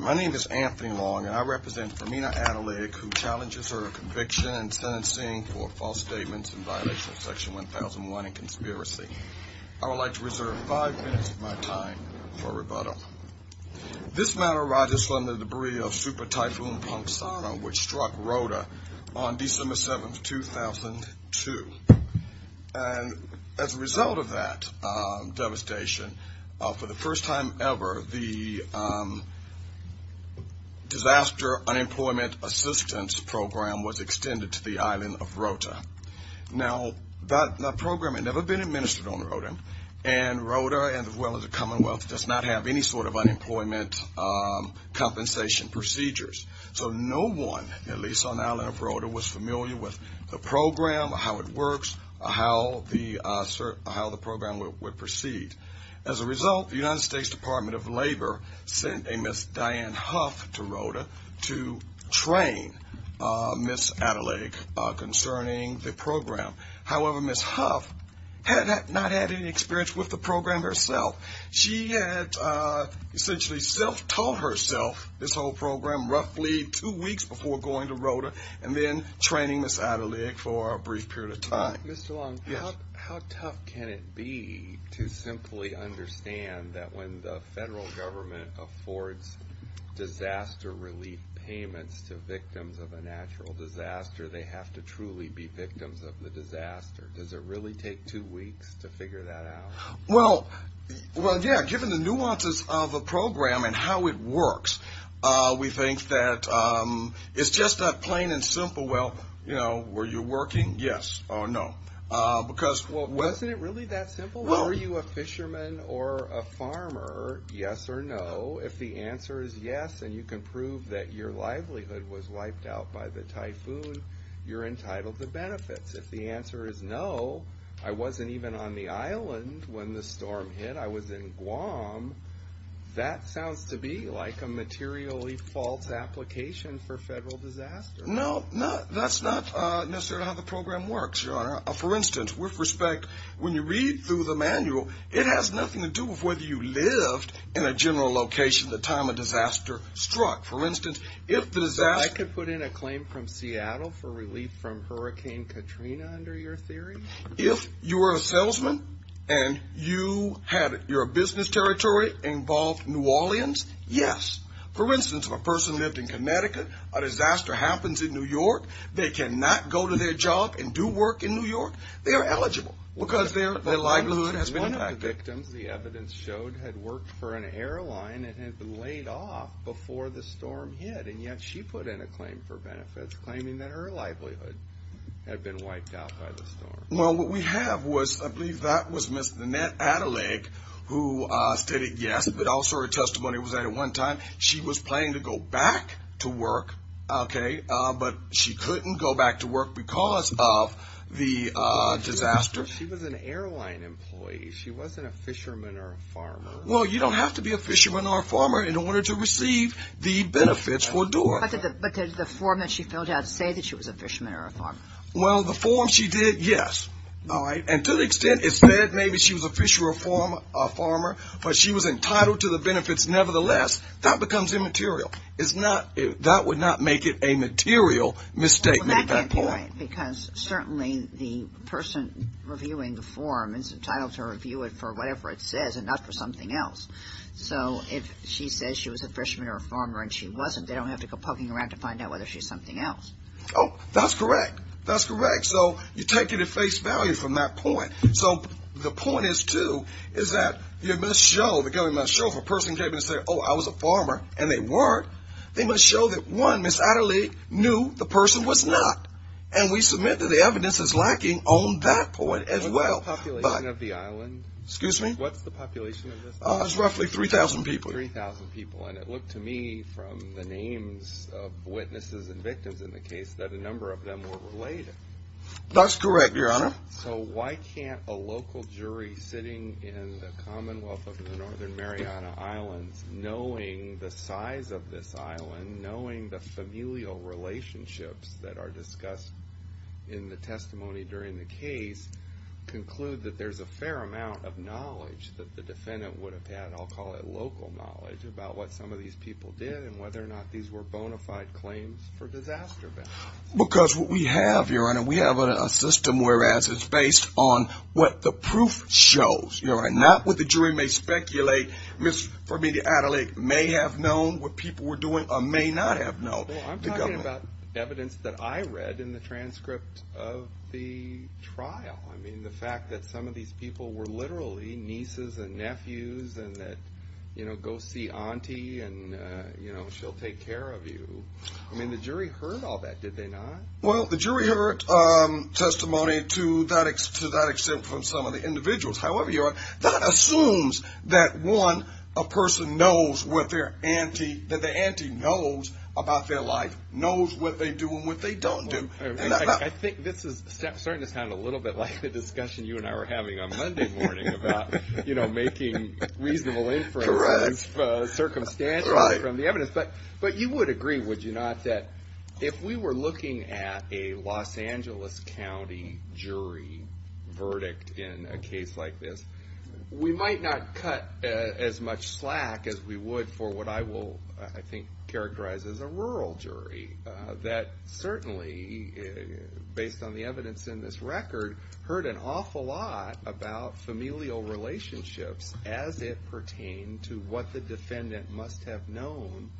My name is Anthony Long and I represent Femina Adelaide who challenges her conviction and sentencing for false statements in violation of section 1001 and conspiracy. I would like to reserve five minutes of my time for rebuttal. This matter arises from the debris of Super Typhoon Pongsana which struck Rota on December 7th, 2002 and as a result of that devastation, for the first time ever, the Disaster Unemployment Assistance Program was extended to the island of Rota. Now, that program had never been administered on Rota and Rota, as well as the commonwealth, does not have any sort of unemployment compensation procedures. So no one, at least on the island of Rota, was familiar with the program, how it works, how the program would proceed. As a result, the United States Department of Labor sent a Ms. Diane Huff to Rota to However, Ms. Huff had not had any experience with the program herself. She had essentially self-taught herself this whole program roughly two weeks before going to Rota and then training Ms. Adelaide for a brief period of time. Mr. Long, how tough can it be to simply understand that when the federal government affords disaster relief payments to victims of a natural disaster, they have to truly be victims of the disaster? Does it really take two weeks to figure that out? Well, yeah, given the nuances of the program and how it works, we think that it's just that plain and simple, well, you know, were you working? Yes or no. Wasn't it really that simple? Were you a fisherman or a farmer, yes or no? If the answer is yes and you can prove that your livelihood was wiped out by the typhoon, you're entitled to benefits. If the answer is no, I wasn't even on the island when the storm hit, I was in Guam, that sounds to be like a materially false application for federal disaster relief. No, that's not necessarily how the program works, Your Honor. For instance, with respect, when you read through the manual, it has nothing to do with whether you lived in a general location at the time a disaster struck. For instance, if the disaster... So I could put in a claim from Seattle for relief from Hurricane Katrina under your theory? If you were a salesman and you had your business territory involved New Orleans, yes. For instance, if a person lived in Connecticut, a disaster happens in New York, they cannot go to their job and do work in New York, they are eligible because their livelihood has been impacted. One of the victims, the evidence showed, had worked for an airline and had been laid off before the storm hit, and yet she put in a claim for benefits claiming that her livelihood had been wiped out by the storm. Well, what we have was, I believe that was Ms. Nanette Adelaide who stated yes, but also her testimony was that at one time she was planning to go back to work, okay, but she couldn't go back to work because of the disaster. She was an airline employee, she wasn't a fisherman or a farmer. Well, you don't have to be a fisherman or a farmer in order to receive the benefits for doing that. But did the form that she filled out say that she was a fisherman or a farmer? Well, the form she did, yes, all right, and to the extent it said maybe she was a fisher or a farmer, but she was entitled to the benefits nevertheless, that becomes immaterial. Right, because certainly the person reviewing the form is entitled to review it for whatever it says and not for something else. So if she says she was a fisherman or a farmer and she wasn't, they don't have to go poking around to find out whether she's something else. Oh, that's correct. That's correct. So you take it at face value from that point. So the point is, too, is that you must show, the government must show, if a person came in and said, oh, I was a farmer, and they weren't, they must show that, one, Ms. Adelaide knew the person was not. And we submit that the evidence is lacking on that point as well. What's the population of the island? Excuse me? What's the population of this island? It's roughly 3,000 people. 3,000 people. And it looked to me from the names of witnesses and victims in the case that a number of them were related. That's correct, Your Honor. So why can't a local jury sitting in the Commonwealth of the Northern Mariana Islands, knowing the familial relationships that are discussed in the testimony during the case, conclude that there's a fair amount of knowledge that the defendant would have had, I'll call it local knowledge, about what some of these people did and whether or not these were bona fide claims for disaster victims? Because what we have, Your Honor, we have a system where it's based on what the proof shows, Your Honor. Not what the jury may speculate, Ms. Adelaide may have known what people were doing or may not have known. Well, I'm talking about evidence that I read in the transcript of the trial. I mean, the fact that some of these people were literally nieces and nephews and that, you know, go see auntie and, you know, she'll take care of you. I mean, the jury heard all that, did they not? Well, the jury heard testimony to that extent from some of the individuals. However, Your Honor, that assumes that, one, a person knows what their auntie, that the auntie knows about their life, knows what they do and what they don't do. I think this is starting to sound a little bit like the discussion you and I were having on Monday morning about, you know, making reasonable inferences, circumstantially, from the evidence. But you would agree, would you not, that if we were looking at a Los Angeles County jury verdict in a case like this, we might not cut as much slack as we would for what I will, I think, characterize as a rural jury that certainly, based on the evidence in this record, heard an awful lot about familial relationships as it pertained to what the defendant must have known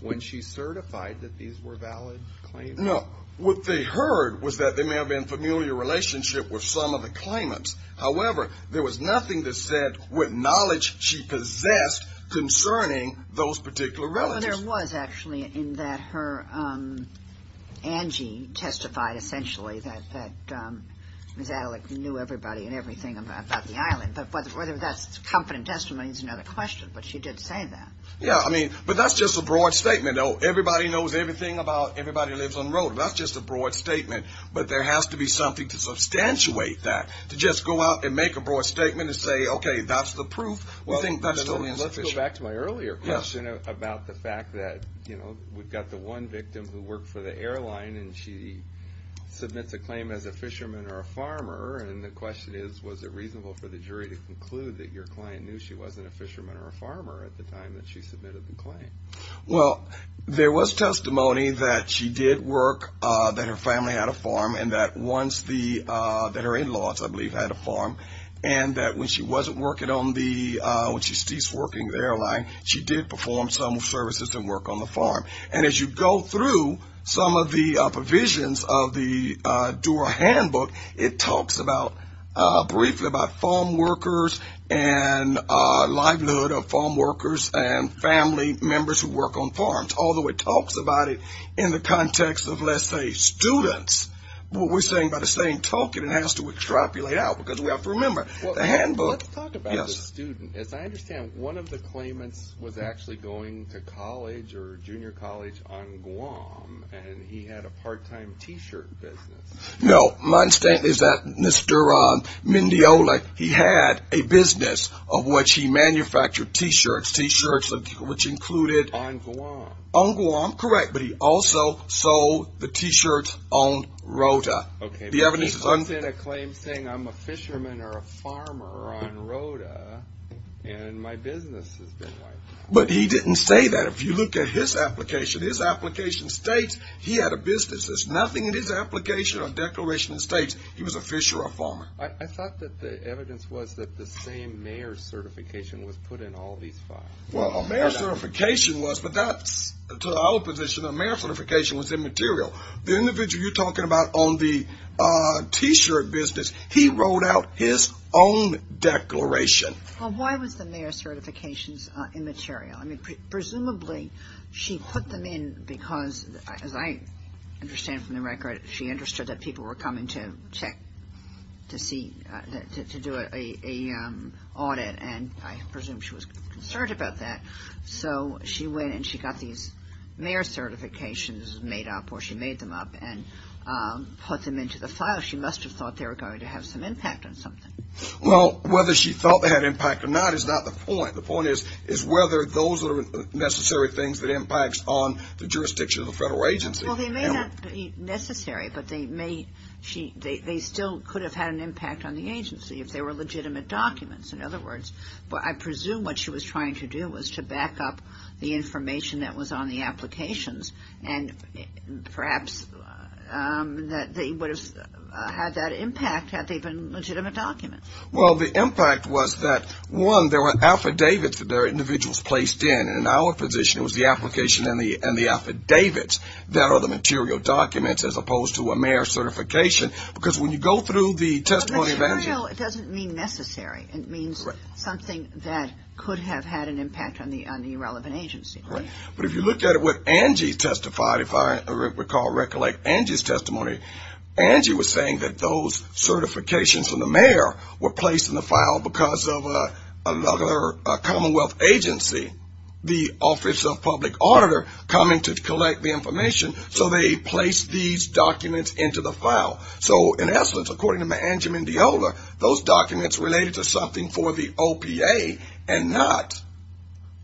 when she certified that these were valid claims? No. What they heard was that there may have been familial relationship with some of the claimants. However, there was nothing that said what knowledge she possessed concerning those particular relatives. Well, there was, actually, in that her auntie testified, essentially, that Ms. Adleck knew everybody and everything about the island. But whether that's confident testimony is another question. But she did say that. Yeah. I mean, but that's just a broad statement. Everybody knows everything about everybody who lives on the road. That's just a broad statement. But there has to be something to substantiate that, to just go out and make a broad statement and say, okay, that's the proof. We think that's the evidence. Let's go back to my earlier question about the fact that, you know, we've got the one victim who worked for the airline and she submits a claim as a fisherman or a farmer. And the question is, was it reasonable for the jury to conclude that your client knew she wasn't a fisherman or a farmer at the time that she submitted the claim? Well, there was testimony that she did work, that her family had a farm, and that once the, that her in-laws, I believe, had a farm. And that when she wasn't working on the, when she ceased working at the airline, she did perform some services and work on the farm. And as you go through some of the provisions of the Dura Handbook, it talks about, briefly about farm workers and livelihood of farm workers and family members who work on farms. Although it talks about it in the context of, let's say, students, what we're saying by the same token, it has to extrapolate out, because we have to remember, the handbook, yes. Well, let's talk about the student. As I understand, one of the claimants was actually going to college or junior college on Guam, and he had a part-time t-shirt business. No. My understanding is that Mr. Mendiola, he had a business of which he manufactured t-shirts, t-shirts which included... On Guam. On Guam, correct. But he also sold the t-shirts on Rota. Okay, but he puts in a claim saying, I'm a fisherman or a farmer on Rota, and my business has been wiped out. But he didn't say that. If you look at his application, his application states he had a business. Nothing in his application or declaration states he was a fisher or a farmer. I thought that the evidence was that the same mayor's certification was put in all these files. Well, a mayor's certification was, but that's to the opposition, a mayor's certification was immaterial. The individual you're talking about on the t-shirt business, he wrote out his own declaration. Well, why was the mayor's certification immaterial? I mean, presumably she put them in because, as I understand from the record, she understood that people were coming to check, to see, to do an audit, and I presume she was concerned about that. So she went and she got these mayor's certifications made up, or she made them up, and put them into the file. She must have thought they were going to have some impact on something. Well, whether she thought they had impact or not is not the point. The point is whether those are necessary things that impacts on the jurisdiction of the federal agency. Well, they may not be necessary, but they still could have had an impact on the agency if they were legitimate documents. In other words, I presume what she was trying to do was to back up the information that was on the applications, and perhaps they would have had that impact had they been legitimate documents. Well, the impact was that, one, there were affidavits that there were individuals placed in, and in our position it was the application and the affidavits that are the material documents as opposed to a mayor's certification. Because when you go through the testimony of Angie But the material, it doesn't mean necessary. It means something that could have had an impact on the relevant agency. Right. But if you look at what Angie testified, if I recall recollect Angie's testimony, Angie was saying that those certifications from the mayor were placed in the file because of another Commonwealth agency, the Office of Public Auditor, coming to collect the information, so they placed these documents into the file. So, in essence, according to Mangiam and Deola, those documents related to something for the OPA and not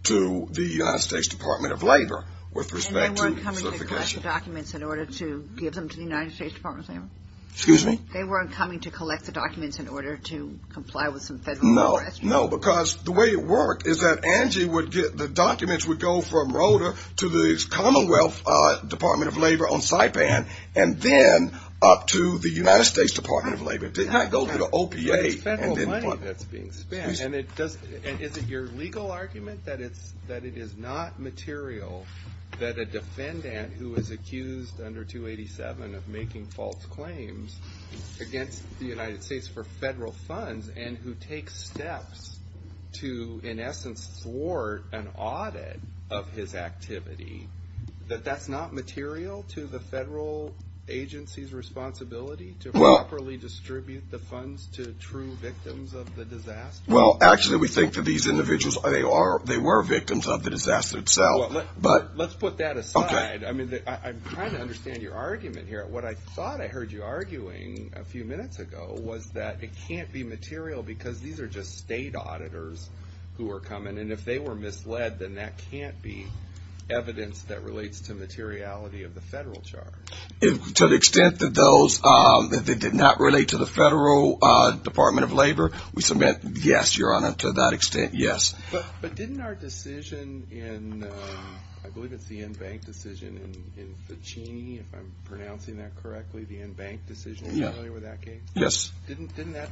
to the United States Department of Labor with respect to certification. They weren't coming to collect the documents in order to give them to the United States Department of Labor? Excuse me? They weren't coming to collect the documents in order to comply with some federal law? No, because the way it worked is that Angie would get the documents would go from Roder to the Commonwealth Department of Labor on Saipan and then up to the United States Department of Labor. It did not go to the OPA. It's federal money that's being spent. And is it your legal argument that it is not material that a defendant who is accused under 287 of making false claims against the United States for federal funds and who takes steps to, in essence, thwart an audit of his activity, that that's not material to the federal agency's responsibility to properly distribute the funds to true victims of the disaster? Well, actually, we think that these individuals, they were victims of the disaster itself. Let's put that aside. I'm trying to understand your argument here. What I thought I heard you arguing a few minutes ago was that it can't be material because these are just state auditors who are coming. And if they were misled, then that can't be evidence that relates to materiality of the federal charge. To the extent that they did not relate to the federal Department of Labor, we submit yes, Your Honor, to that extent, yes. But didn't our decision in, I believe it's the InBank decision in Fichini, if I'm pronouncing that correctly, the InBank decision, are you familiar with that case? Yes. Didn't that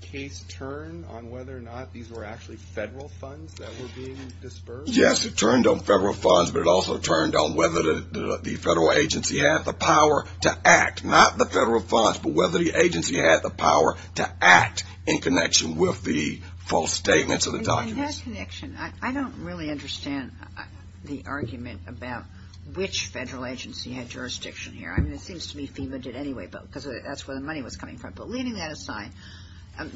case turn on whether or not these were actually federal funds that were being disbursed? Yes, it turned on federal funds, but it also turned on whether the federal agency had the power to act, not the federal funds, but whether the agency had the power to act in connection with the false statements of the documents. In that connection, I don't really understand the argument about which federal agency had jurisdiction here. I mean, it seems to me FEMA did anyway because that's where the money was coming from. But leaving that aside,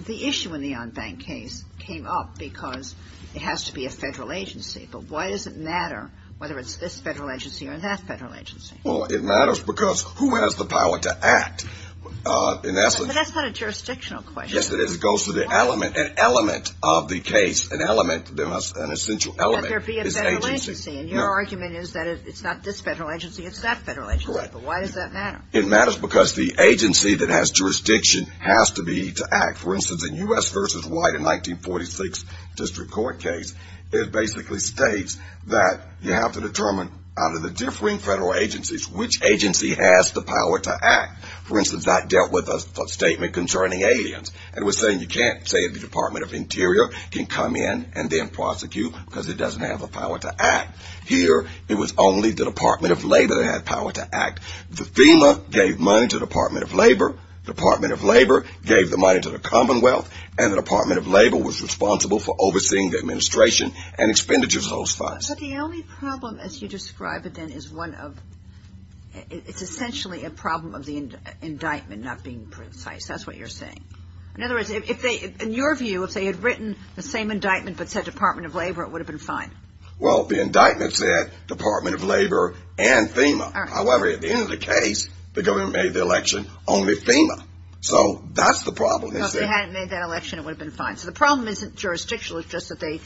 the issue in the OnBank case came up because it has to be a federal agency. But why does it matter whether it's this federal agency or that federal agency? Well, it matters because who has the power to act? But that's not a jurisdictional question. Yes, it is. It goes to the element, an element of the case, an element, an essential element is agency. Let there be a federal agency. And your argument is that it's not this federal agency, it's that federal agency. Correct. But why does that matter? It matters because the agency that has jurisdiction has to be to act. For instance, in U.S. v. White, a 1946 district court case, it basically states that you have to determine out of the differing federal agencies which agency has the power to act. For instance, that dealt with a statement concerning aliens. It was saying you can't say the Department of Interior can come in and then prosecute because it doesn't have the power to act. Here, it was only the Department of Labor that had power to act. The FEMA gave money to the Department of Labor, the Department of Labor gave the money to the Commonwealth, and the Department of Labor was responsible for overseeing the administration and expenditures of those funds. But the only problem, as you describe it then, is one of, it's essentially a problem of the indictment not being precise. That's what you're saying. In other words, if they, in your view, if they had written the same indictment but said Department of Labor, it would have been fine. Well, the indictment said Department of Labor and FEMA. However, at the end of the case, the government made the election only FEMA. So that's the problem. If they hadn't made that election, it would have been fine. So the problem isn't jurisdictional. It's just that they,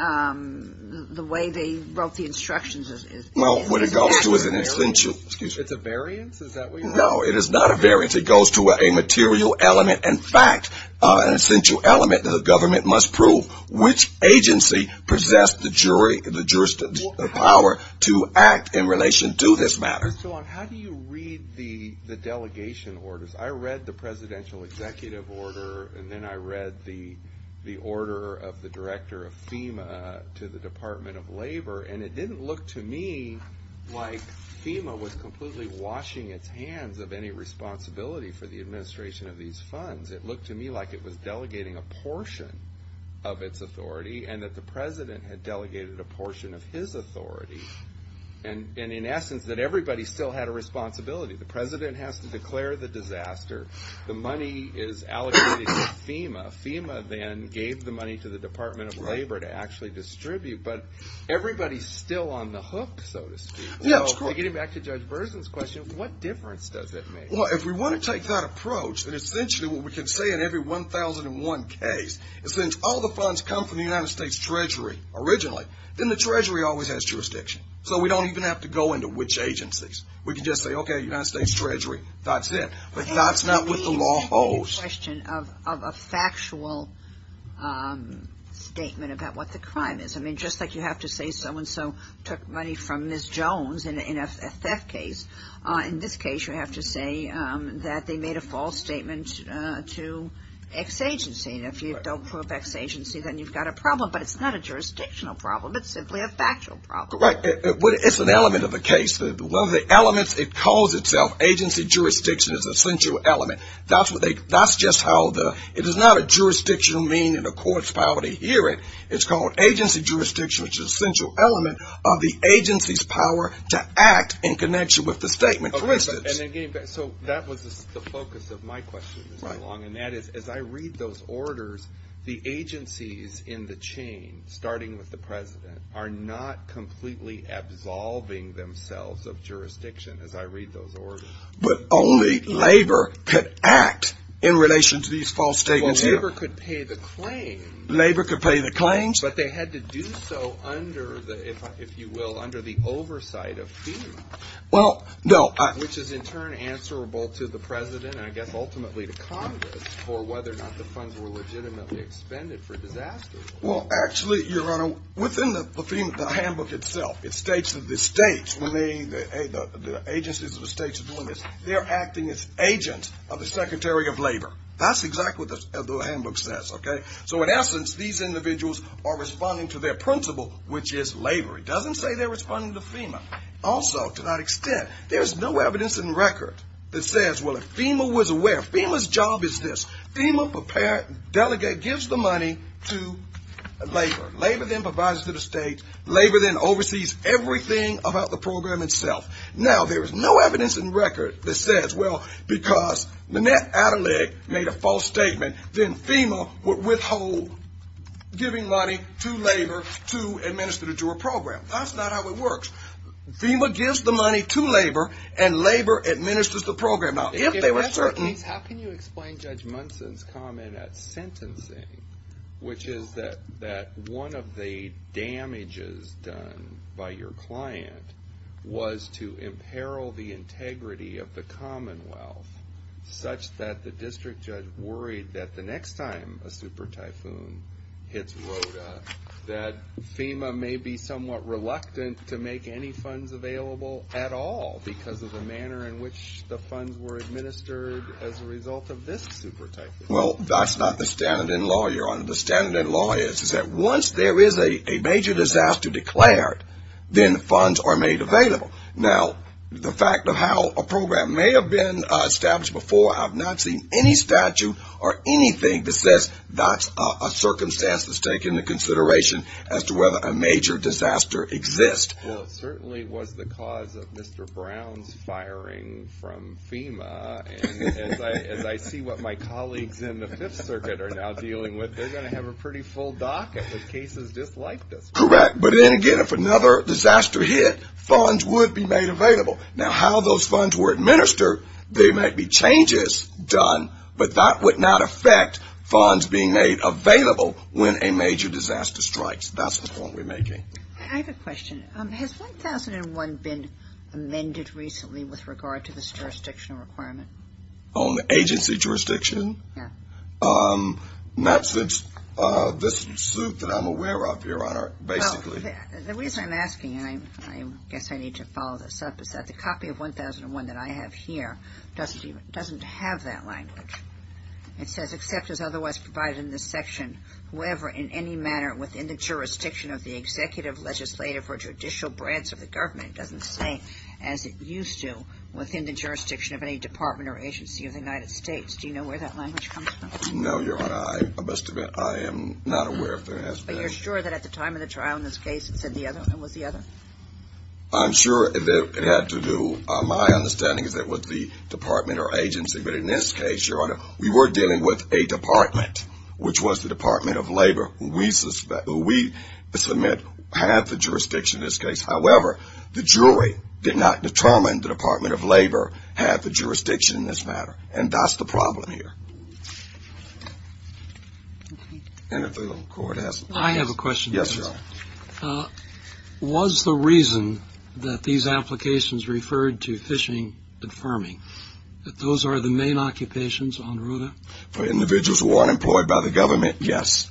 the way they wrote the instructions is inaccurate. Well, what it goes to is an essential. Excuse me. It's a variance? Is that what you're saying? No, it is not a variance. It goes to a material element. In fact, an essential element that the government must prove which agency possessed the jury, the jurisdiction, the power to act in relation to this matter. How do you read the delegation orders? I read the presidential executive order, and then I read the order of the director of FEMA to the Department of Labor. And it didn't look to me like FEMA was completely washing its hands of any responsibility for the administration of these funds. It looked to me like it was delegating a portion of its authority and that the president had delegated a portion of his authority. And in essence, that everybody still had a responsibility. The president has to declare the disaster. The money is allocated to FEMA. FEMA then gave the money to the Department of Labor to actually distribute. But everybody's still on the hook, so to speak. So getting back to Judge Berzin's question, what difference does it make? Well, if we want to take that approach, then essentially what we can say in every 1,001 case is since all the funds come from the United States Treasury originally, then the Treasury always has jurisdiction. So we don't even have to go into which agencies. We can just say, okay, United States Treasury. That's it. But that's not what the law holds. Can you speak to the question of a factual statement about what the crime is? I mean, just like you have to say so-and-so took money from Ms. Jones in a theft case, in this case you have to say that they made a false statement to X agency. And if you don't prove X agency, then you've got a problem. But it's not a jurisdictional problem. It's simply a factual problem. Correct. Well, it's an element of the case. One of the elements, it calls itself agency jurisdiction is an essential element. That's just how the – it is not a jurisdictional meaning in a court's power to hear it. It's called agency jurisdiction, which is an essential element of the agency's power to act in connection with the statement. So that was the focus of my question this morning, and that is, as I read those orders, the agencies in the chain, starting with the president, are not completely absolving themselves of jurisdiction, as I read those orders. But only labor could act in relation to these false statements here. Well, labor could pay the claims. Labor could pay the claims. But they had to do so under the, if you will, under the oversight of FEMA. Well, no. Which is in turn answerable to the president, and I guess ultimately to Congress, for whether or not the funds were legitimately expended for disasters. Well, actually, Your Honor, within the handbook itself, it states that the states, when the agencies of the states are doing this, they're acting as agents of the secretary of labor. That's exactly what the handbook says, okay? So in essence, these individuals are responding to their principle, which is labor. It doesn't say they're responding to FEMA. Also, to that extent, there's no evidence in record that says, well, if FEMA was aware, FEMA's job is this, FEMA delegate gives the money to labor. Labor then provides it to the states. Labor then oversees everything about the program itself. Now, there is no evidence in record that says, well, because Manette Adelaide made a false statement, then FEMA would withhold giving money to labor to administer it to a program. That's not how it works. FEMA gives the money to labor, and labor administers the program. If they were certain. In that case, how can you explain Judge Munson's comment at sentencing, which is that one of the damages done by your client was to imperil the integrity of the Commonwealth, such that the district judge worried that the next time a super typhoon hits Rhoda, that FEMA may be somewhat reluctant to make any funds available at all, because of the manner in which the funds were administered as a result of this super typhoon? Well, that's not the standard in law, Your Honor. The standard in law is that once there is a major disaster declared, then funds are made available. Now, the fact of how a program may have been established before, I've not seen any statute or anything that says that's a circumstance that's taken into consideration as to whether a major disaster exists. Well, it certainly was the cause of Mr. Brown's firing from FEMA, and as I see what my colleagues in the Fifth Circuit are now dealing with, they're going to have a pretty full docket with cases just like this one. Correct. But then again, if another disaster hit, funds would be made available. Now, how those funds were administered, there might be changes done, but that would not affect funds being made available when a major disaster strikes. That's the point we're making. I have a question. Has 1001 been amended recently with regard to this jurisdictional requirement? On the agency jurisdiction? Yeah. Not since this suit that I'm aware of, Your Honor, basically. The reason I'm asking, and I guess I need to follow this up, is that the copy of 1001 that I have here doesn't have that language. It says, except as otherwise provided in this section, whoever in any manner within the jurisdiction of the executive, legislative, or judicial branch of the government doesn't say, as it used to, within the jurisdiction of any department or agency of the United States. Do you know where that language comes from? No, Your Honor. I am not aware of that aspect. But you're sure that at the time of the trial in this case it was the other? I'm sure that it had to do, my understanding is that with the department or agency, but in this case, Your Honor, we were dealing with a department, which was the Department of Labor, who we submit had the jurisdiction in this case. However, the jury did not determine the Department of Labor had the jurisdiction in this matter. And that's the problem here. And if the court has a question. I have a question. Yes, Your Honor. Was the reason that these applications referred to phishing and firming, that those are the main occupations on RUDA? For individuals who aren't employed by the government, yes.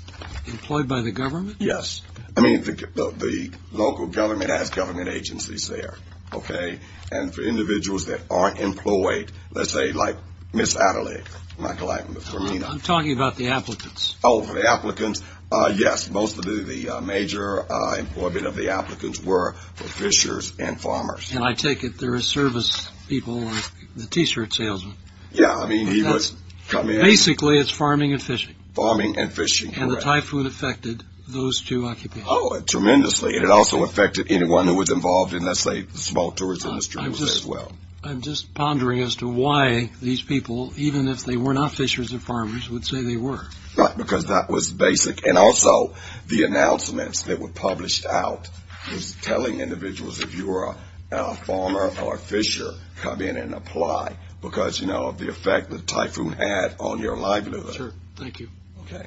Employed by the government? Yes. I mean, the local government has government agencies there, okay? And for individuals that aren't employed, let's say like Miss Adelaide, Michael Adelaide, I'm talking about the applicants. Oh, the applicants, yes. Most of the major employment of the applicants were for fishers and farmers. And I take it there are service people like the T-shirt salesman. Yeah, I mean, he was coming in. Basically, it's farming and fishing. Farming and fishing, correct. And the typhoon affected those two occupations. Oh, tremendously. And it also affected anyone who was involved in, let's say, the small tourism industry as well. I'm just pondering as to why these people, even if they were not fishers and farmers, would say they were. Right, because that was basic. And also, the announcements that were published out was telling individuals if you were a farmer or a fisher, come in and apply because, you know, of the effect the typhoon had on your livelihood. Sure. Thank you. Okay.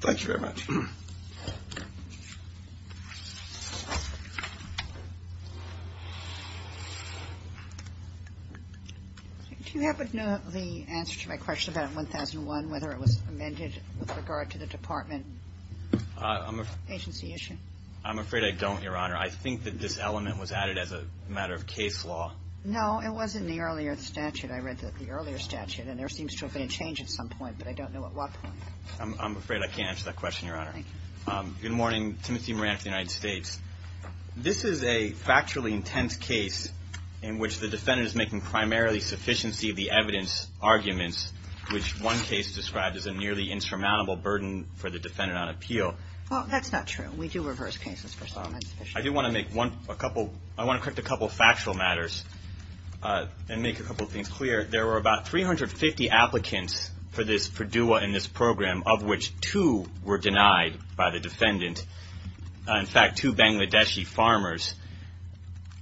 Thank you very much. Do you happen to know the answer to my question about 1001, whether it was amended with regard to the department agency issue? I'm afraid I don't, Your Honor. I think that this element was added as a matter of case law. No, it was in the earlier statute. I read the earlier statute, and there seems to have been a change at some point, but I don't know at what point. I'm afraid I can't answer that question, Your Honor. Thank you. Good morning. Timothy Moran from the United States. This is a factually intense case in which the defendant is making primarily sufficiency of the evidence arguments, which one case described as a nearly insurmountable burden for the defendant on appeal. Well, that's not true. We do reverse cases for some. I do want to make a couple of factual matters and make a couple of things clear. There were about 350 applicants for DUA in this program, of which two were denied by the defendant, in fact, two Bangladeshi farmers.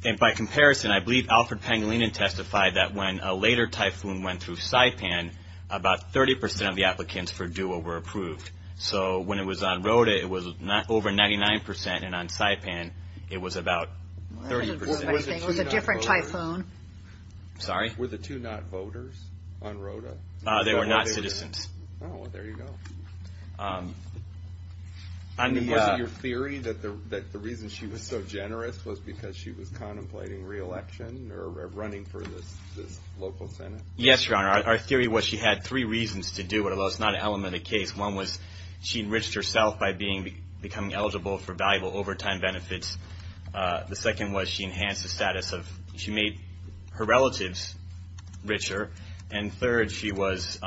And by comparison, I believe Alfred Pangilinan testified that when a later typhoon went through Saipan, about 30 percent of the applicants for DUA were approved. So when it was on Rota, it was over 99 percent, and on Saipan, it was about 30 percent. Was it a different typhoon? I'm sorry? Were the two not voters on Rota? They were not citizens. Oh, well, there you go. I mean, wasn't your theory that the reason she was so generous was because she was contemplating re-election or running for this local Senate? Yes, Your Honor. Our theory was she had three reasons to do it, although it's not an element of the case. One was she enriched herself by becoming eligible for valuable overtime benefits. The second was she enhanced the status of – she made her relatives richer. And third, she was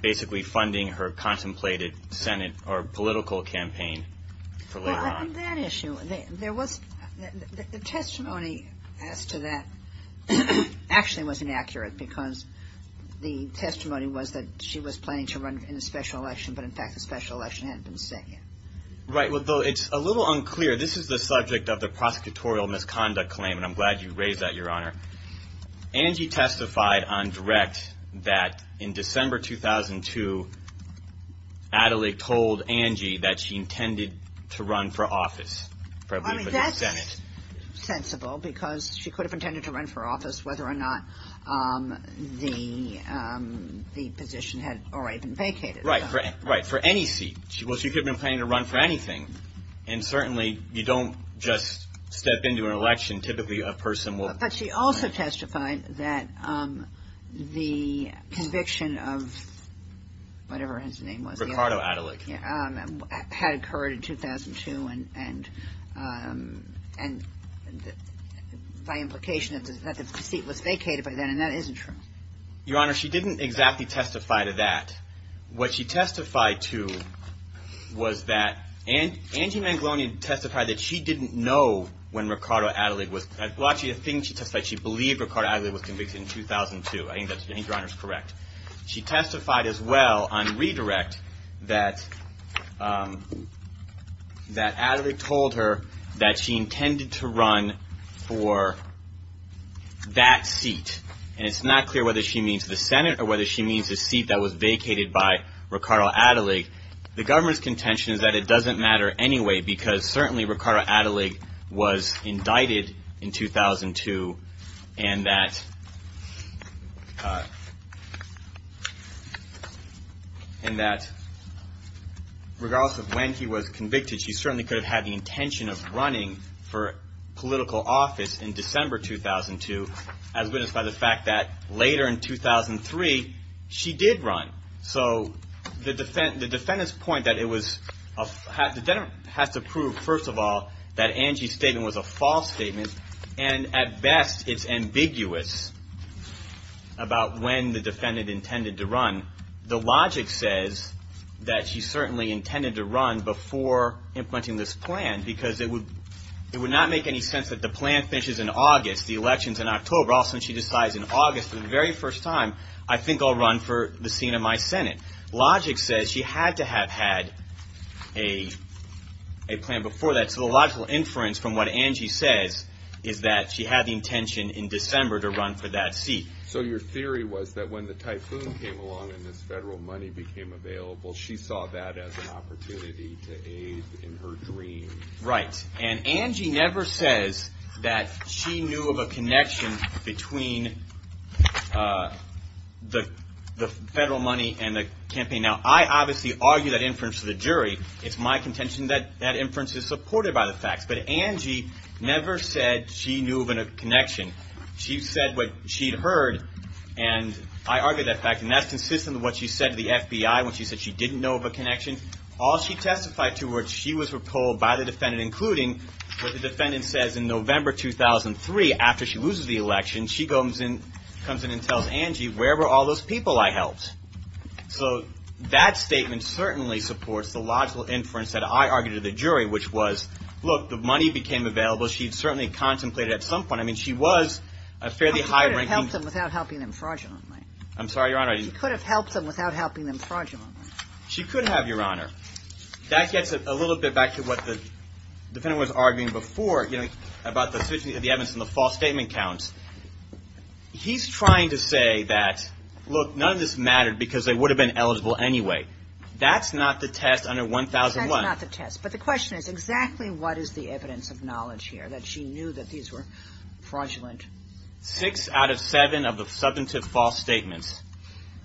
basically funding her contemplated Senate or political campaign for later on. Well, on that issue, there was – the testimony as to that actually was inaccurate because the testimony was that she was planning to run in a special election, but, in fact, the special election hadn't been set yet. Right. Well, it's a little unclear. This is the subject of the prosecutorial misconduct claim, and I'm glad you raised that, Your Honor. Angie testified on direct that, in December 2002, Adlai told Angie that she intended to run for office. I mean, that's sensible because she could have intended to run for office, whether or not the position had already been vacated. Right. For any seat. Well, she could have been planning to run for anything. And, certainly, you don't just step into an election. Typically, a person will – But she also testified that the conviction of – whatever his name was. Ricardo Adlai. Yeah. Had occurred in 2002 and by implication that the seat was vacated by then, and that isn't true. Your Honor, she didn't exactly testify to that. What she testified to was that – Angie Manglonian testified that she didn't know when Ricardo Adlai was – well, actually, I think she testified she believed Ricardo Adlai was convicted in 2002. I think that's – I think Your Honor is correct. She testified as well on redirect that Adlai told her that she intended to run for that seat. And it's not clear whether she means the Senate or whether she means the seat that was vacated by Ricardo Adlai. The government's contention is that it doesn't matter anyway because, certainly, Ricardo Adlai was indicted in 2002 and that regardless of when he was convicted, she certainly could have had the intention of running for political office in December 2002, as witnessed by the fact that later in 2003, she did run. So the defendant's point that it was – the defendant has to prove, first of all, that Angie's statement was a false statement and, at best, it's ambiguous about when the defendant intended to run. The logic says that she certainly intended to run before implementing this plan because it would not make any sense that the plan finishes in August, the election's in October, all of a sudden she decides in August for the very first time, I think I'll run for the seat of my Senate. Logic says she had to have had a plan before that. So the logical inference from what Angie says is that she had the intention in December to run for that seat. So your theory was that when the typhoon came along and this federal money became available, she saw that as an opportunity to aid in her dream. Right, and Angie never says that she knew of a connection between the federal money and the campaign. Now, I obviously argue that inference to the jury. It's my contention that that inference is supported by the facts, but Angie never said she knew of a connection. She said what she'd heard, and I argue that fact, and that's consistent with what she said to the FBI when she said she didn't know of a connection. All she testified to was she was repulled by the defendant, including what the defendant says in November 2003 after she loses the election. She comes in and tells Angie, where were all those people I helped? So that statement certainly supports the logical inference that I argue to the jury, which was, look, the money became available. She certainly contemplated at some point. I mean, she was a fairly high-ranking. She could have helped them without helping them fraudulently. I'm sorry, Your Honor, I didn't. She could have helped them without helping them fraudulently. She could have, Your Honor. That gets a little bit back to what the defendant was arguing before, you know, about the suit of the evidence and the false statement counts. He's trying to say that, look, none of this mattered because they would have been eligible anyway. That's not the test under 1001. That's not the test, but the question is exactly what is the evidence of knowledge here that she knew that these were fraudulent? Six out of seven of the substantive false statements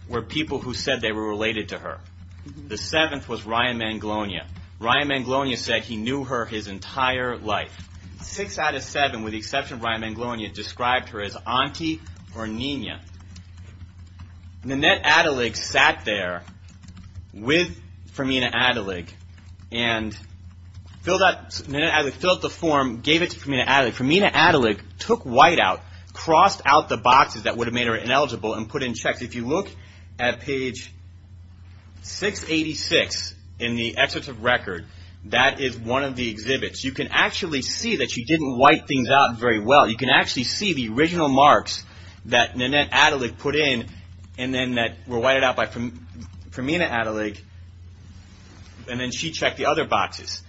were people who said they were related to her. The seventh was Ryan Manglonia. Ryan Manglonia said he knew her his entire life. Six out of seven, with the exception of Ryan Manglonia, described her as auntie or nina. Nanette Adelig sat there with Fermina Adelig and filled out the form, gave it to Fermina Adelig. Fermina Adelig took white out, crossed out the boxes that would have made her ineligible and put in checks. If you look at page 686 in the excerpt of record, that is one of the exhibits. You can actually see that she didn't wipe things out very well. You can actually see the original marks that Nanette Adelig put in and then that were whited out by Fermina Adelig, and then she checked the other boxes.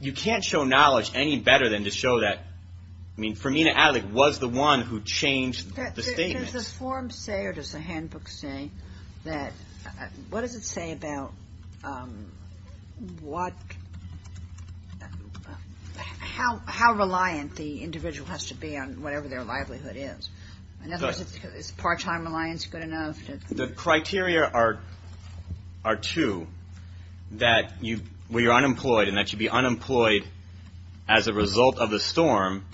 You can't show knowledge any better than to show that, I mean, Fermina Adelig was the one who changed the statements. Does the form say, or does the handbook say, what does it say about how reliant the individual has to be on whatever their livelihood is? In other words, is part-time reliance good enough? The criteria are two, that you're unemployed and that you be unemployed as a result of the storm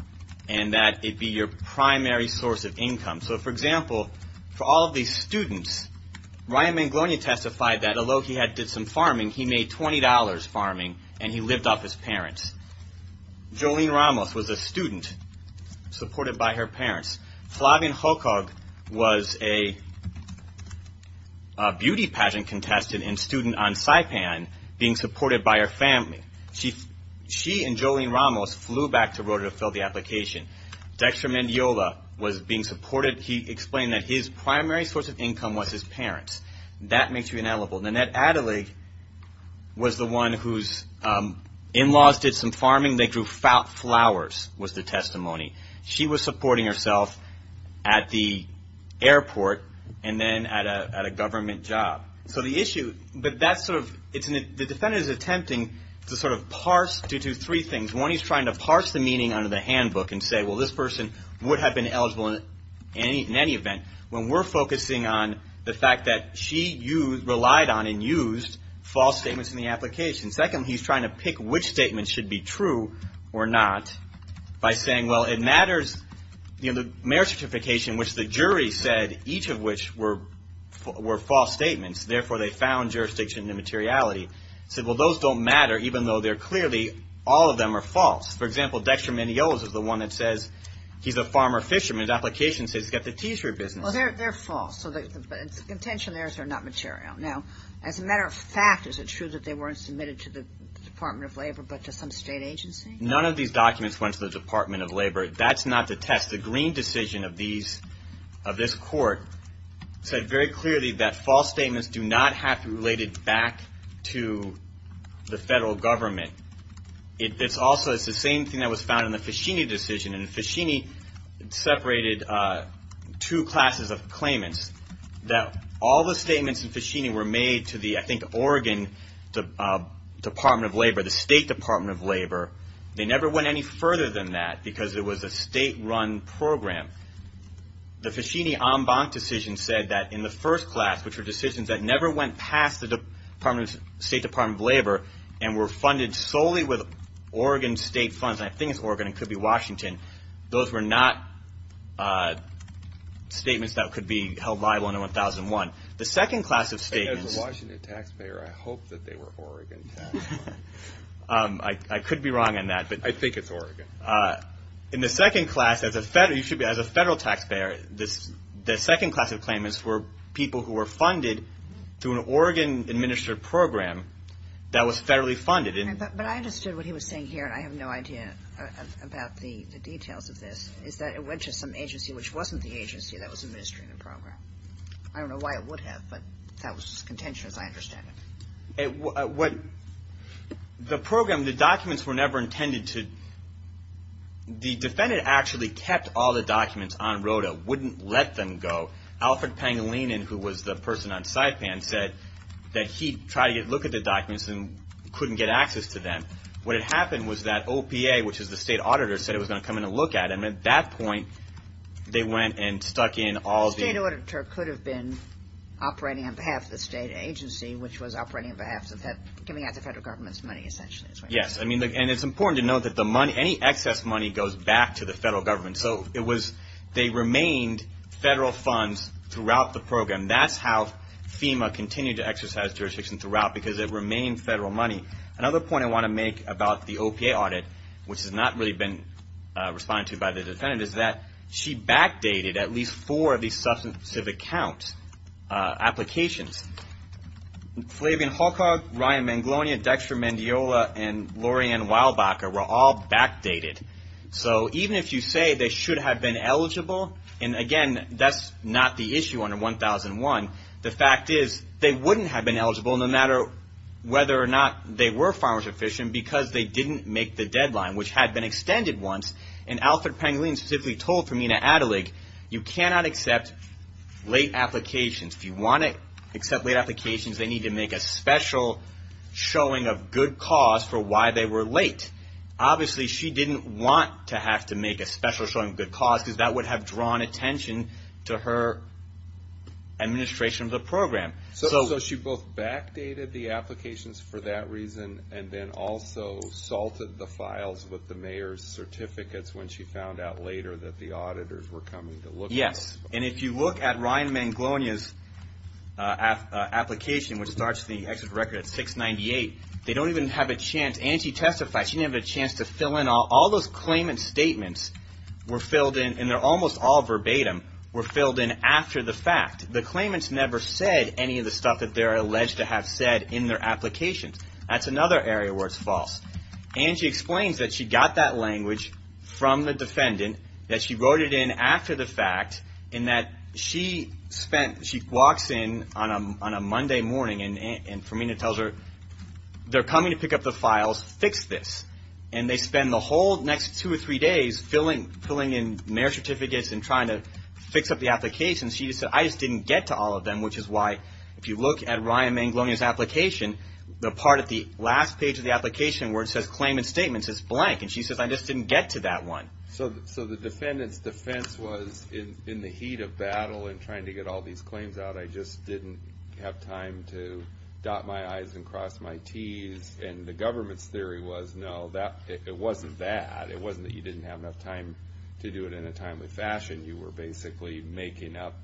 and that it be your primary source of income. So, for example, for all of these students, Ryan Manglonia testified that although he did some farming, he made $20 farming and he lived off his parents. Jolene Ramos was a student supported by her parents. Flavin Hokog was a beauty pageant contestant and student on Saipan being supported by her family. She and Jolene Ramos flew back to Rotorua to fill the application. Dextra Mendiola was being supported. He explained that his primary source of income was his parents. That makes you inalienable. Nanette Adelig was the one whose in-laws did some farming, they grew flowers, was the testimony. She was supporting herself at the airport and then at a government job. So the issue, but that's sort of, the defendant is attempting to sort of parse, to do three things. One, he's trying to parse the meaning under the handbook and say, well, this person would have been eligible in any event, when we're focusing on the fact that she relied on and used false statements in the application. Second, he's trying to pick which statement should be true or not by saying, well, it matters, you know, the marriage certification, which the jury said each of which were false statements. Therefore, they found jurisdiction immateriality. Said, well, those don't matter, even though they're clearly, all of them are false. For example, Dextra Mendiola is the one that says he's a farmer fisherman. The application says he's got the tea tree business. Well, they're false. So the contention there is they're not material. Now, as a matter of fact, is it true that they weren't submitted to the Department of Labor but to some state agency? None of these documents went to the Department of Labor. That's not the test. The Green decision of this court said very clearly that false statements do not have to be related back to the federal government. It's also the same thing that was found in the Faschini decision. And Faschini separated two classes of claimants, that all the statements in Faschini were made to the, I think, Oregon Department of Labor, the State Department of Labor. They never went any further than that because it was a state-run program. The Faschini en banc decision said that in the first class, which were decisions that never went past the State Department of Labor and were funded solely with Oregon state funds, and I think it's Oregon. It could be Washington. Those were not statements that could be held liable under 1001. The second class of statements. As a Washington taxpayer, I hope that they were Oregon. I could be wrong on that. I think it's Oregon. In the second class, as a federal taxpayer, the second class of claimants were people who were funded through an Oregon-administered program that was federally funded. But I understood what he was saying here, and I have no idea about the details of this, is that it went to some agency which wasn't the agency that was administering the program. I don't know why it would have, but that was just contention, as I understand it. The program, the documents were never intended to, the defendant actually kept all the documents on ROTA, wouldn't let them go. Alfred Pangilinan, who was the person on SIPAN, said that he tried to get a look at the documents and couldn't get access to them. What had happened was that OPA, which is the state auditor, said it was going to come in and look at them. At that point, they went and stuck in all the. The state auditor could have been operating on behalf of the state agency, which was operating on behalf of giving out the federal government's money, essentially. Yes, and it's important to note that any excess money goes back to the federal government. So they remained federal funds throughout the program. That's how FEMA continued to exercise jurisdiction throughout, because it remained federal money. Another point I want to make about the OPA audit, which has not really been responded to by the defendant, is that she backdated at least four of these substantive account applications. Flavian Holcock, Ryan Manglonia, Dexter Mandiola, and Lorianne Weilbacher were all backdated. So even if you say they should have been eligible, and again, that's not the issue under 1001. The fact is they wouldn't have been eligible, no matter whether or not they were farmers or fishermen, because they didn't make the deadline, which had been extended once. And Alfred Pangolin specifically told Femina Adelig, you cannot accept late applications. If you want to accept late applications, they need to make a special showing of good cause for why they were late. Obviously, she didn't want to have to make a special showing of good cause, because that would have drawn attention to her administration of the program. So she both backdated the applications for that reason, and then also salted the files with the mayor's certificates when she found out later that the auditors were coming to look at them. Yes, and if you look at Ryan Manglonia's application, which starts the exit record at 698, they don't even have a chance, and she testified, she didn't have a chance to fill in all those claimant statements were filled in, and they're almost all verbatim, were filled in after the fact. The claimants never said any of the stuff that they're alleged to have said in their applications. That's another area where it's false. And she explains that she got that language from the defendant, that she wrote it in after the fact, and that she spent, she walks in on a Monday morning, and Femina tells her, they're coming to pick up the files, fix this. And they spend the whole next two or three days filling in mayor's certificates and trying to fix up the applications. She said, I just didn't get to all of them, which is why, if you look at Ryan Manglonia's application, the part at the last page of the application where it says claimant statements is blank, and she says, I just didn't get to that one. So the defendant's defense was, in the heat of battle and trying to get all these claims out, I just didn't have time to dot my I's and cross my T's, and the government's theory was, no, it wasn't that. It wasn't that you didn't have enough time to do it in a timely fashion. You were basically making up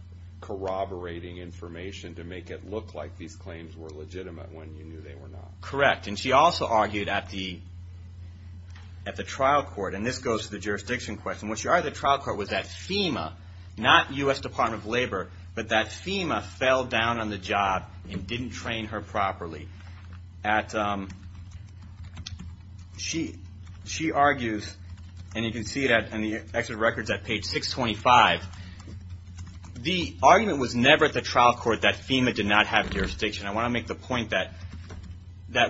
corroborating information to make it look like these claims were legitimate when you knew they were not. Correct. And she also argued at the trial court, and this goes to the jurisdiction question, what she argued at the trial court was that FEMA, not U.S. Department of Labor, but that FEMA fell down on the job and didn't train her properly. She argues, and you can see it in the exit records at page 625, the argument was never at the trial court that FEMA did not have jurisdiction. I want to make the point that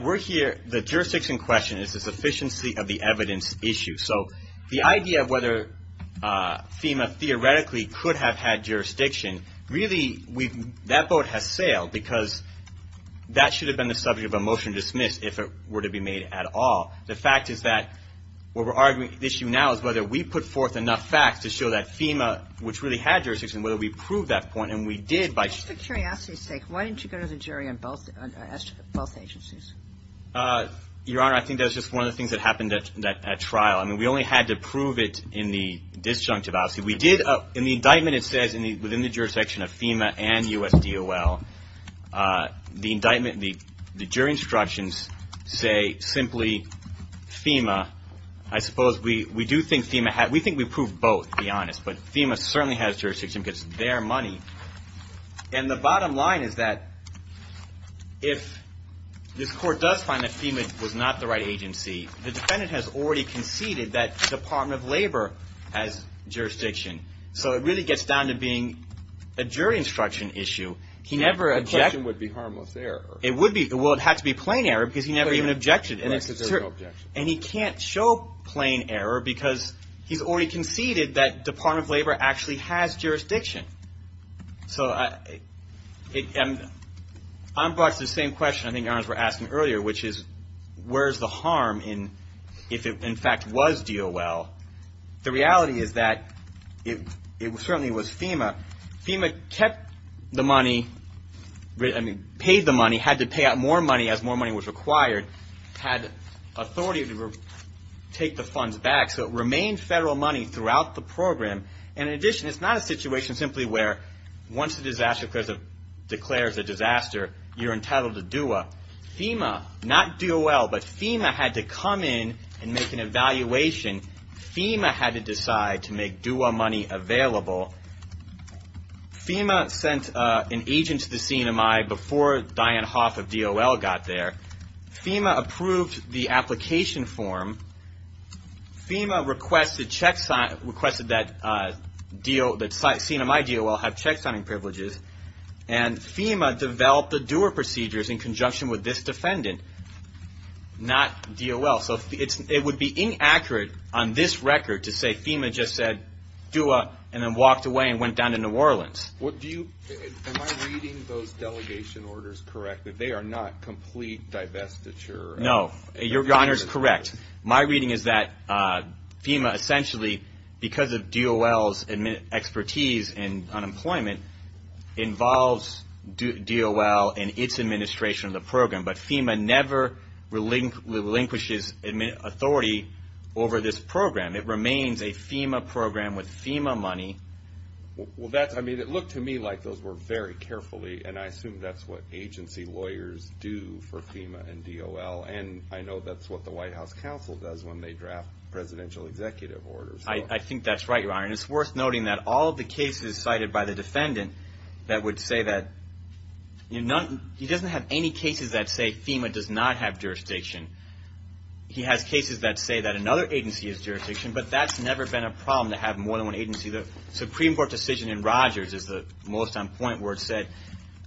we're here, the jurisdiction question is the sufficiency of the evidence issue. So the idea of whether FEMA theoretically could have had jurisdiction, really that vote has sailed because that should have been the subject of a motion to dismiss if it were to be made at all. The fact is that what we're arguing the issue now is whether we put forth enough facts to show that FEMA, which really had jurisdiction, whether we proved that point, and we did. Just for curiosity's sake, why didn't you go to the jury on both agencies? Your Honor, I think that's just one of the things that happened at trial. I mean, we only had to prove it in the disjunctive. We did, in the indictment it says, within the jurisdiction of FEMA and USDOL, the indictment, the jury instructions say simply FEMA. I suppose we do think FEMA had, we think we proved both to be honest, but FEMA certainly has jurisdiction because it's their money. And the bottom line is that if this court does find that FEMA was not the right agency, the defendant has already conceded that Department of Labor has jurisdiction. So it really gets down to being a jury instruction issue. The question would be harmless error. Well, it would have to be plain error because he never even objected. Right, because there's no objection. And he can't show plain error because he's already conceded that Department of Labor actually has jurisdiction. So I'm brought to the same question I think Your Honors were asking earlier, which is where's the harm if it, in fact, was DOL? The reality is that it certainly was FEMA. FEMA kept the money, I mean, paid the money, had to pay out more money as more money was required, had authority to take the funds back. So it remained federal money throughout the program. And in addition, it's not a situation simply where once a disaster declares a disaster, you're entitled to DUA. FEMA, not DOL, but FEMA had to come in and make an evaluation. FEMA had to decide to make DUA money available. FEMA sent an agent to the CNMI before Diane Hoff of DOL got there. FEMA approved the application form. FEMA requested that CNMI DOL have checksigning privileges. And FEMA developed the DUA procedures in conjunction with this defendant, not DOL. So it would be inaccurate on this record to say FEMA just said DUA and then walked away and went down to New Orleans. Am I reading those delegation orders correctly? They are not complete divestiture? No. Your Honor is correct. My reading is that FEMA essentially, because of DOL's expertise in unemployment, involves DOL and its administration of the program. But FEMA never relinquishes authority over this program. It remains a FEMA program with FEMA money. Well, that's, I mean, it looked to me like those were very carefully, and I assume that's what agency lawyers do for FEMA and DOL. And I know that's what the White House Counsel does when they draft presidential executive orders. I think that's right, Your Honor. And it's worth noting that all of the cases cited by the defendant that would say that, he doesn't have any cases that say FEMA does not have jurisdiction. He has cases that say that another agency has jurisdiction, The Supreme Court decision in Rogers is the most on point where it said,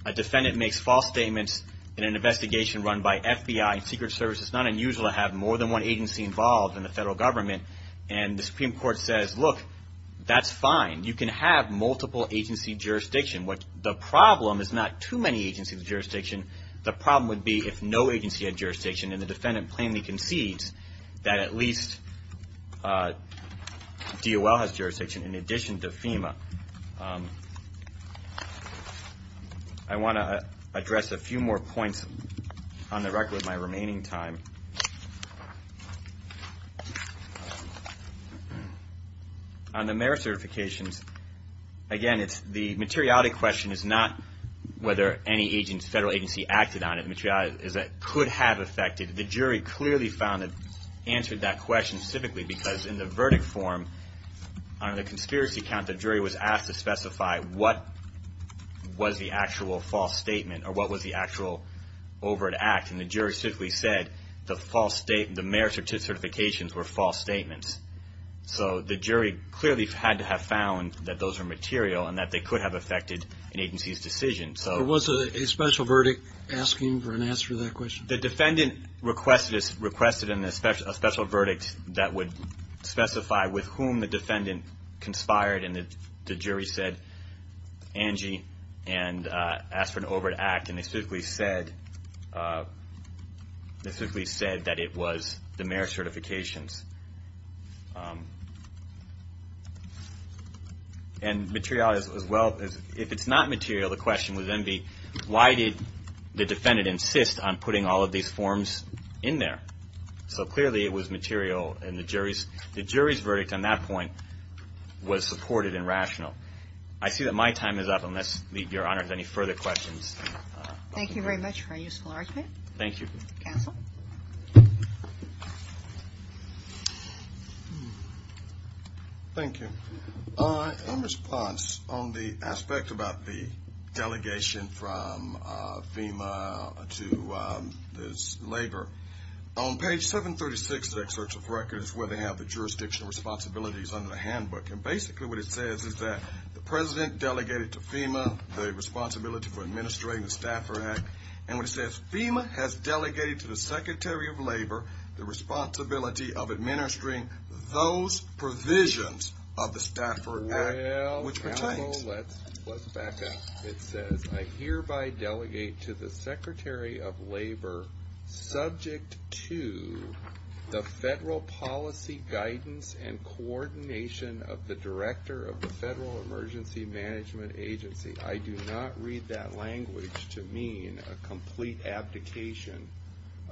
a defendant makes false statements in an investigation run by FBI and Secret Service. It's not unusual to have more than one agency involved in the federal government. And the Supreme Court says, look, that's fine. You can have multiple agency jurisdiction. The problem is not too many agency jurisdiction. The problem would be if no agency had jurisdiction, and the defendant plainly concedes that at least DOL has jurisdiction in addition to FEMA. I want to address a few more points on the record with my remaining time. On the merit certifications, again, the materiality question is not whether any federal agency acted on it. The materiality is that it could have affected. The jury clearly found it answered that question specifically because in the verdict form, under the conspiracy count, the jury was asked to specify what was the actual false statement or what was the actual overt act. And the jury simply said the merit certifications were false statements. So the jury clearly had to have found that those were material and that they could have affected an agency's decision. There was a special verdict asking for an answer to that question? The defendant requested a special verdict that would specify with whom the defendant conspired, and the jury said Angie and asked for an overt act. And they specifically said that it was the merit certifications. And materiality as well, if it's not material, the question would then be, why did the defendant insist on putting all of these forms in there? So clearly it was material, and the jury's verdict on that point was supported and rational. I see that my time is up, unless Your Honor has any further questions. Thank you very much for a useful argument. Thank you. Counsel? Thank you. In response on the aspect about the delegation from FEMA to this labor, on page 736 of the excerpt of the record is where they have the jurisdictional responsibilities under the handbook, and basically what it says is that the president delegated to FEMA the responsibility for administering the Stafford Act, and what it says, FEMA has delegated to the Secretary of Labor the responsibility of administering those provisions of the Stafford Act, which pertains. Well, counsel, let's back up. It says, I hereby delegate to the Secretary of Labor, subject to the federal policy guidance and coordination of the director of the Federal Emergency Management Agency. I do not read that language to mean a complete abdication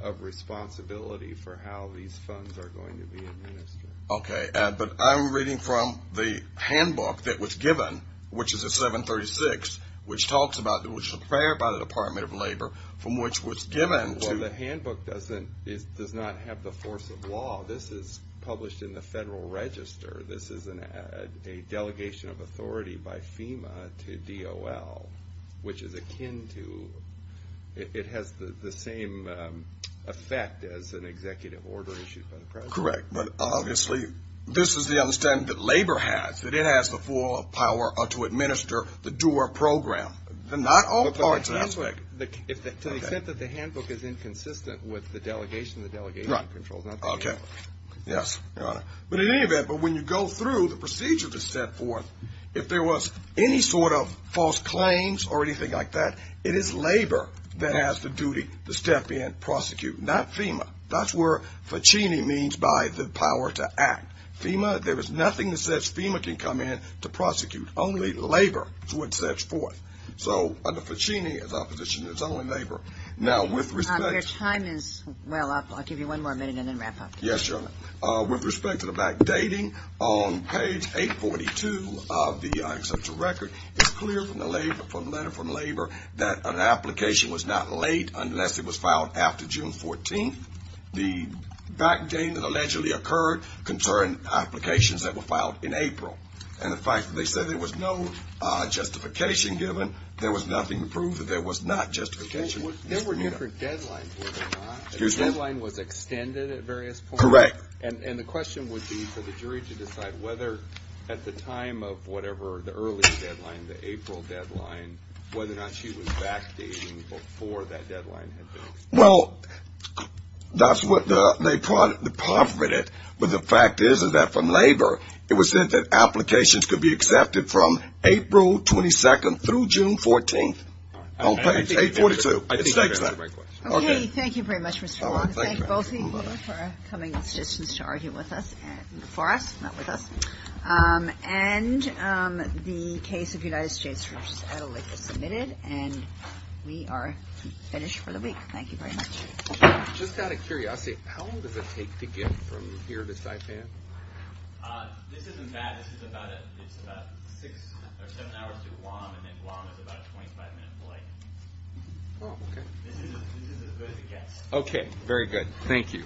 of responsibility for how these funds are going to be administered. Okay. But I'm reading from the handbook that was given, which is at 736, which talks about it was prepared by the Department of Labor, from which was given to you. Well, the handbook does not have the force of law. This is published in the Federal Register. This is a delegation of authority by FEMA to DOL, which is akin to, it has the same effect as an executive order issued by the president. Correct. But obviously this is the understanding that labor has, that it has the full power to administer the DOOR program. Not all parts of that. To the extent that the handbook is inconsistent with the delegation, Okay. Yes, Your Honor. But in any event, but when you go through the procedure to step forth, if there was any sort of false claims or anything like that, it is labor that has the duty to step in, prosecute. Not FEMA. That's where FECCHINI means by the power to act. FEMA, there is nothing that says FEMA can come in to prosecute. Only labor is what sets forth. So under FECCHINI, as opposition, it's only labor. Now, with respect to Your time is well up. I'll give you one more minute and then wrap up. Yes, Your Honor. With respect to the backdating, on page 842 of the exceptional record, it's clear from the letter from labor that an application was not late unless it was filed after June 14th. The backdating that allegedly occurred concerned applications that were filed in April. And the fact that they said there was no justification given, there was nothing to prove that there was not justification. There were different deadlines, were there not? The deadline was extended at various points? Correct. And the question would be for the jury to decide whether, at the time of whatever the early deadline, the April deadline, whether or not she was backdating before that deadline had been extended. Well, that's what they provided. But the fact is that from labor, it was said that applications could be accepted from April 22nd through June 14th. On page 842. Okay, thank you very much, Mr. Long. I want to thank both of you for coming this distance to argue with us, for us, not with us. And the case of the United States versus Adelaide is submitted, and we are finished for the week. Thank you very much. Just out of curiosity, how long does it take to get from here to Saipan? This isn't bad. This is about six or seven hours to Guam, and then Guam is about a 25-minute flight. Oh, okay. This is as good as it gets. Okay, very good. Thank you. All rise.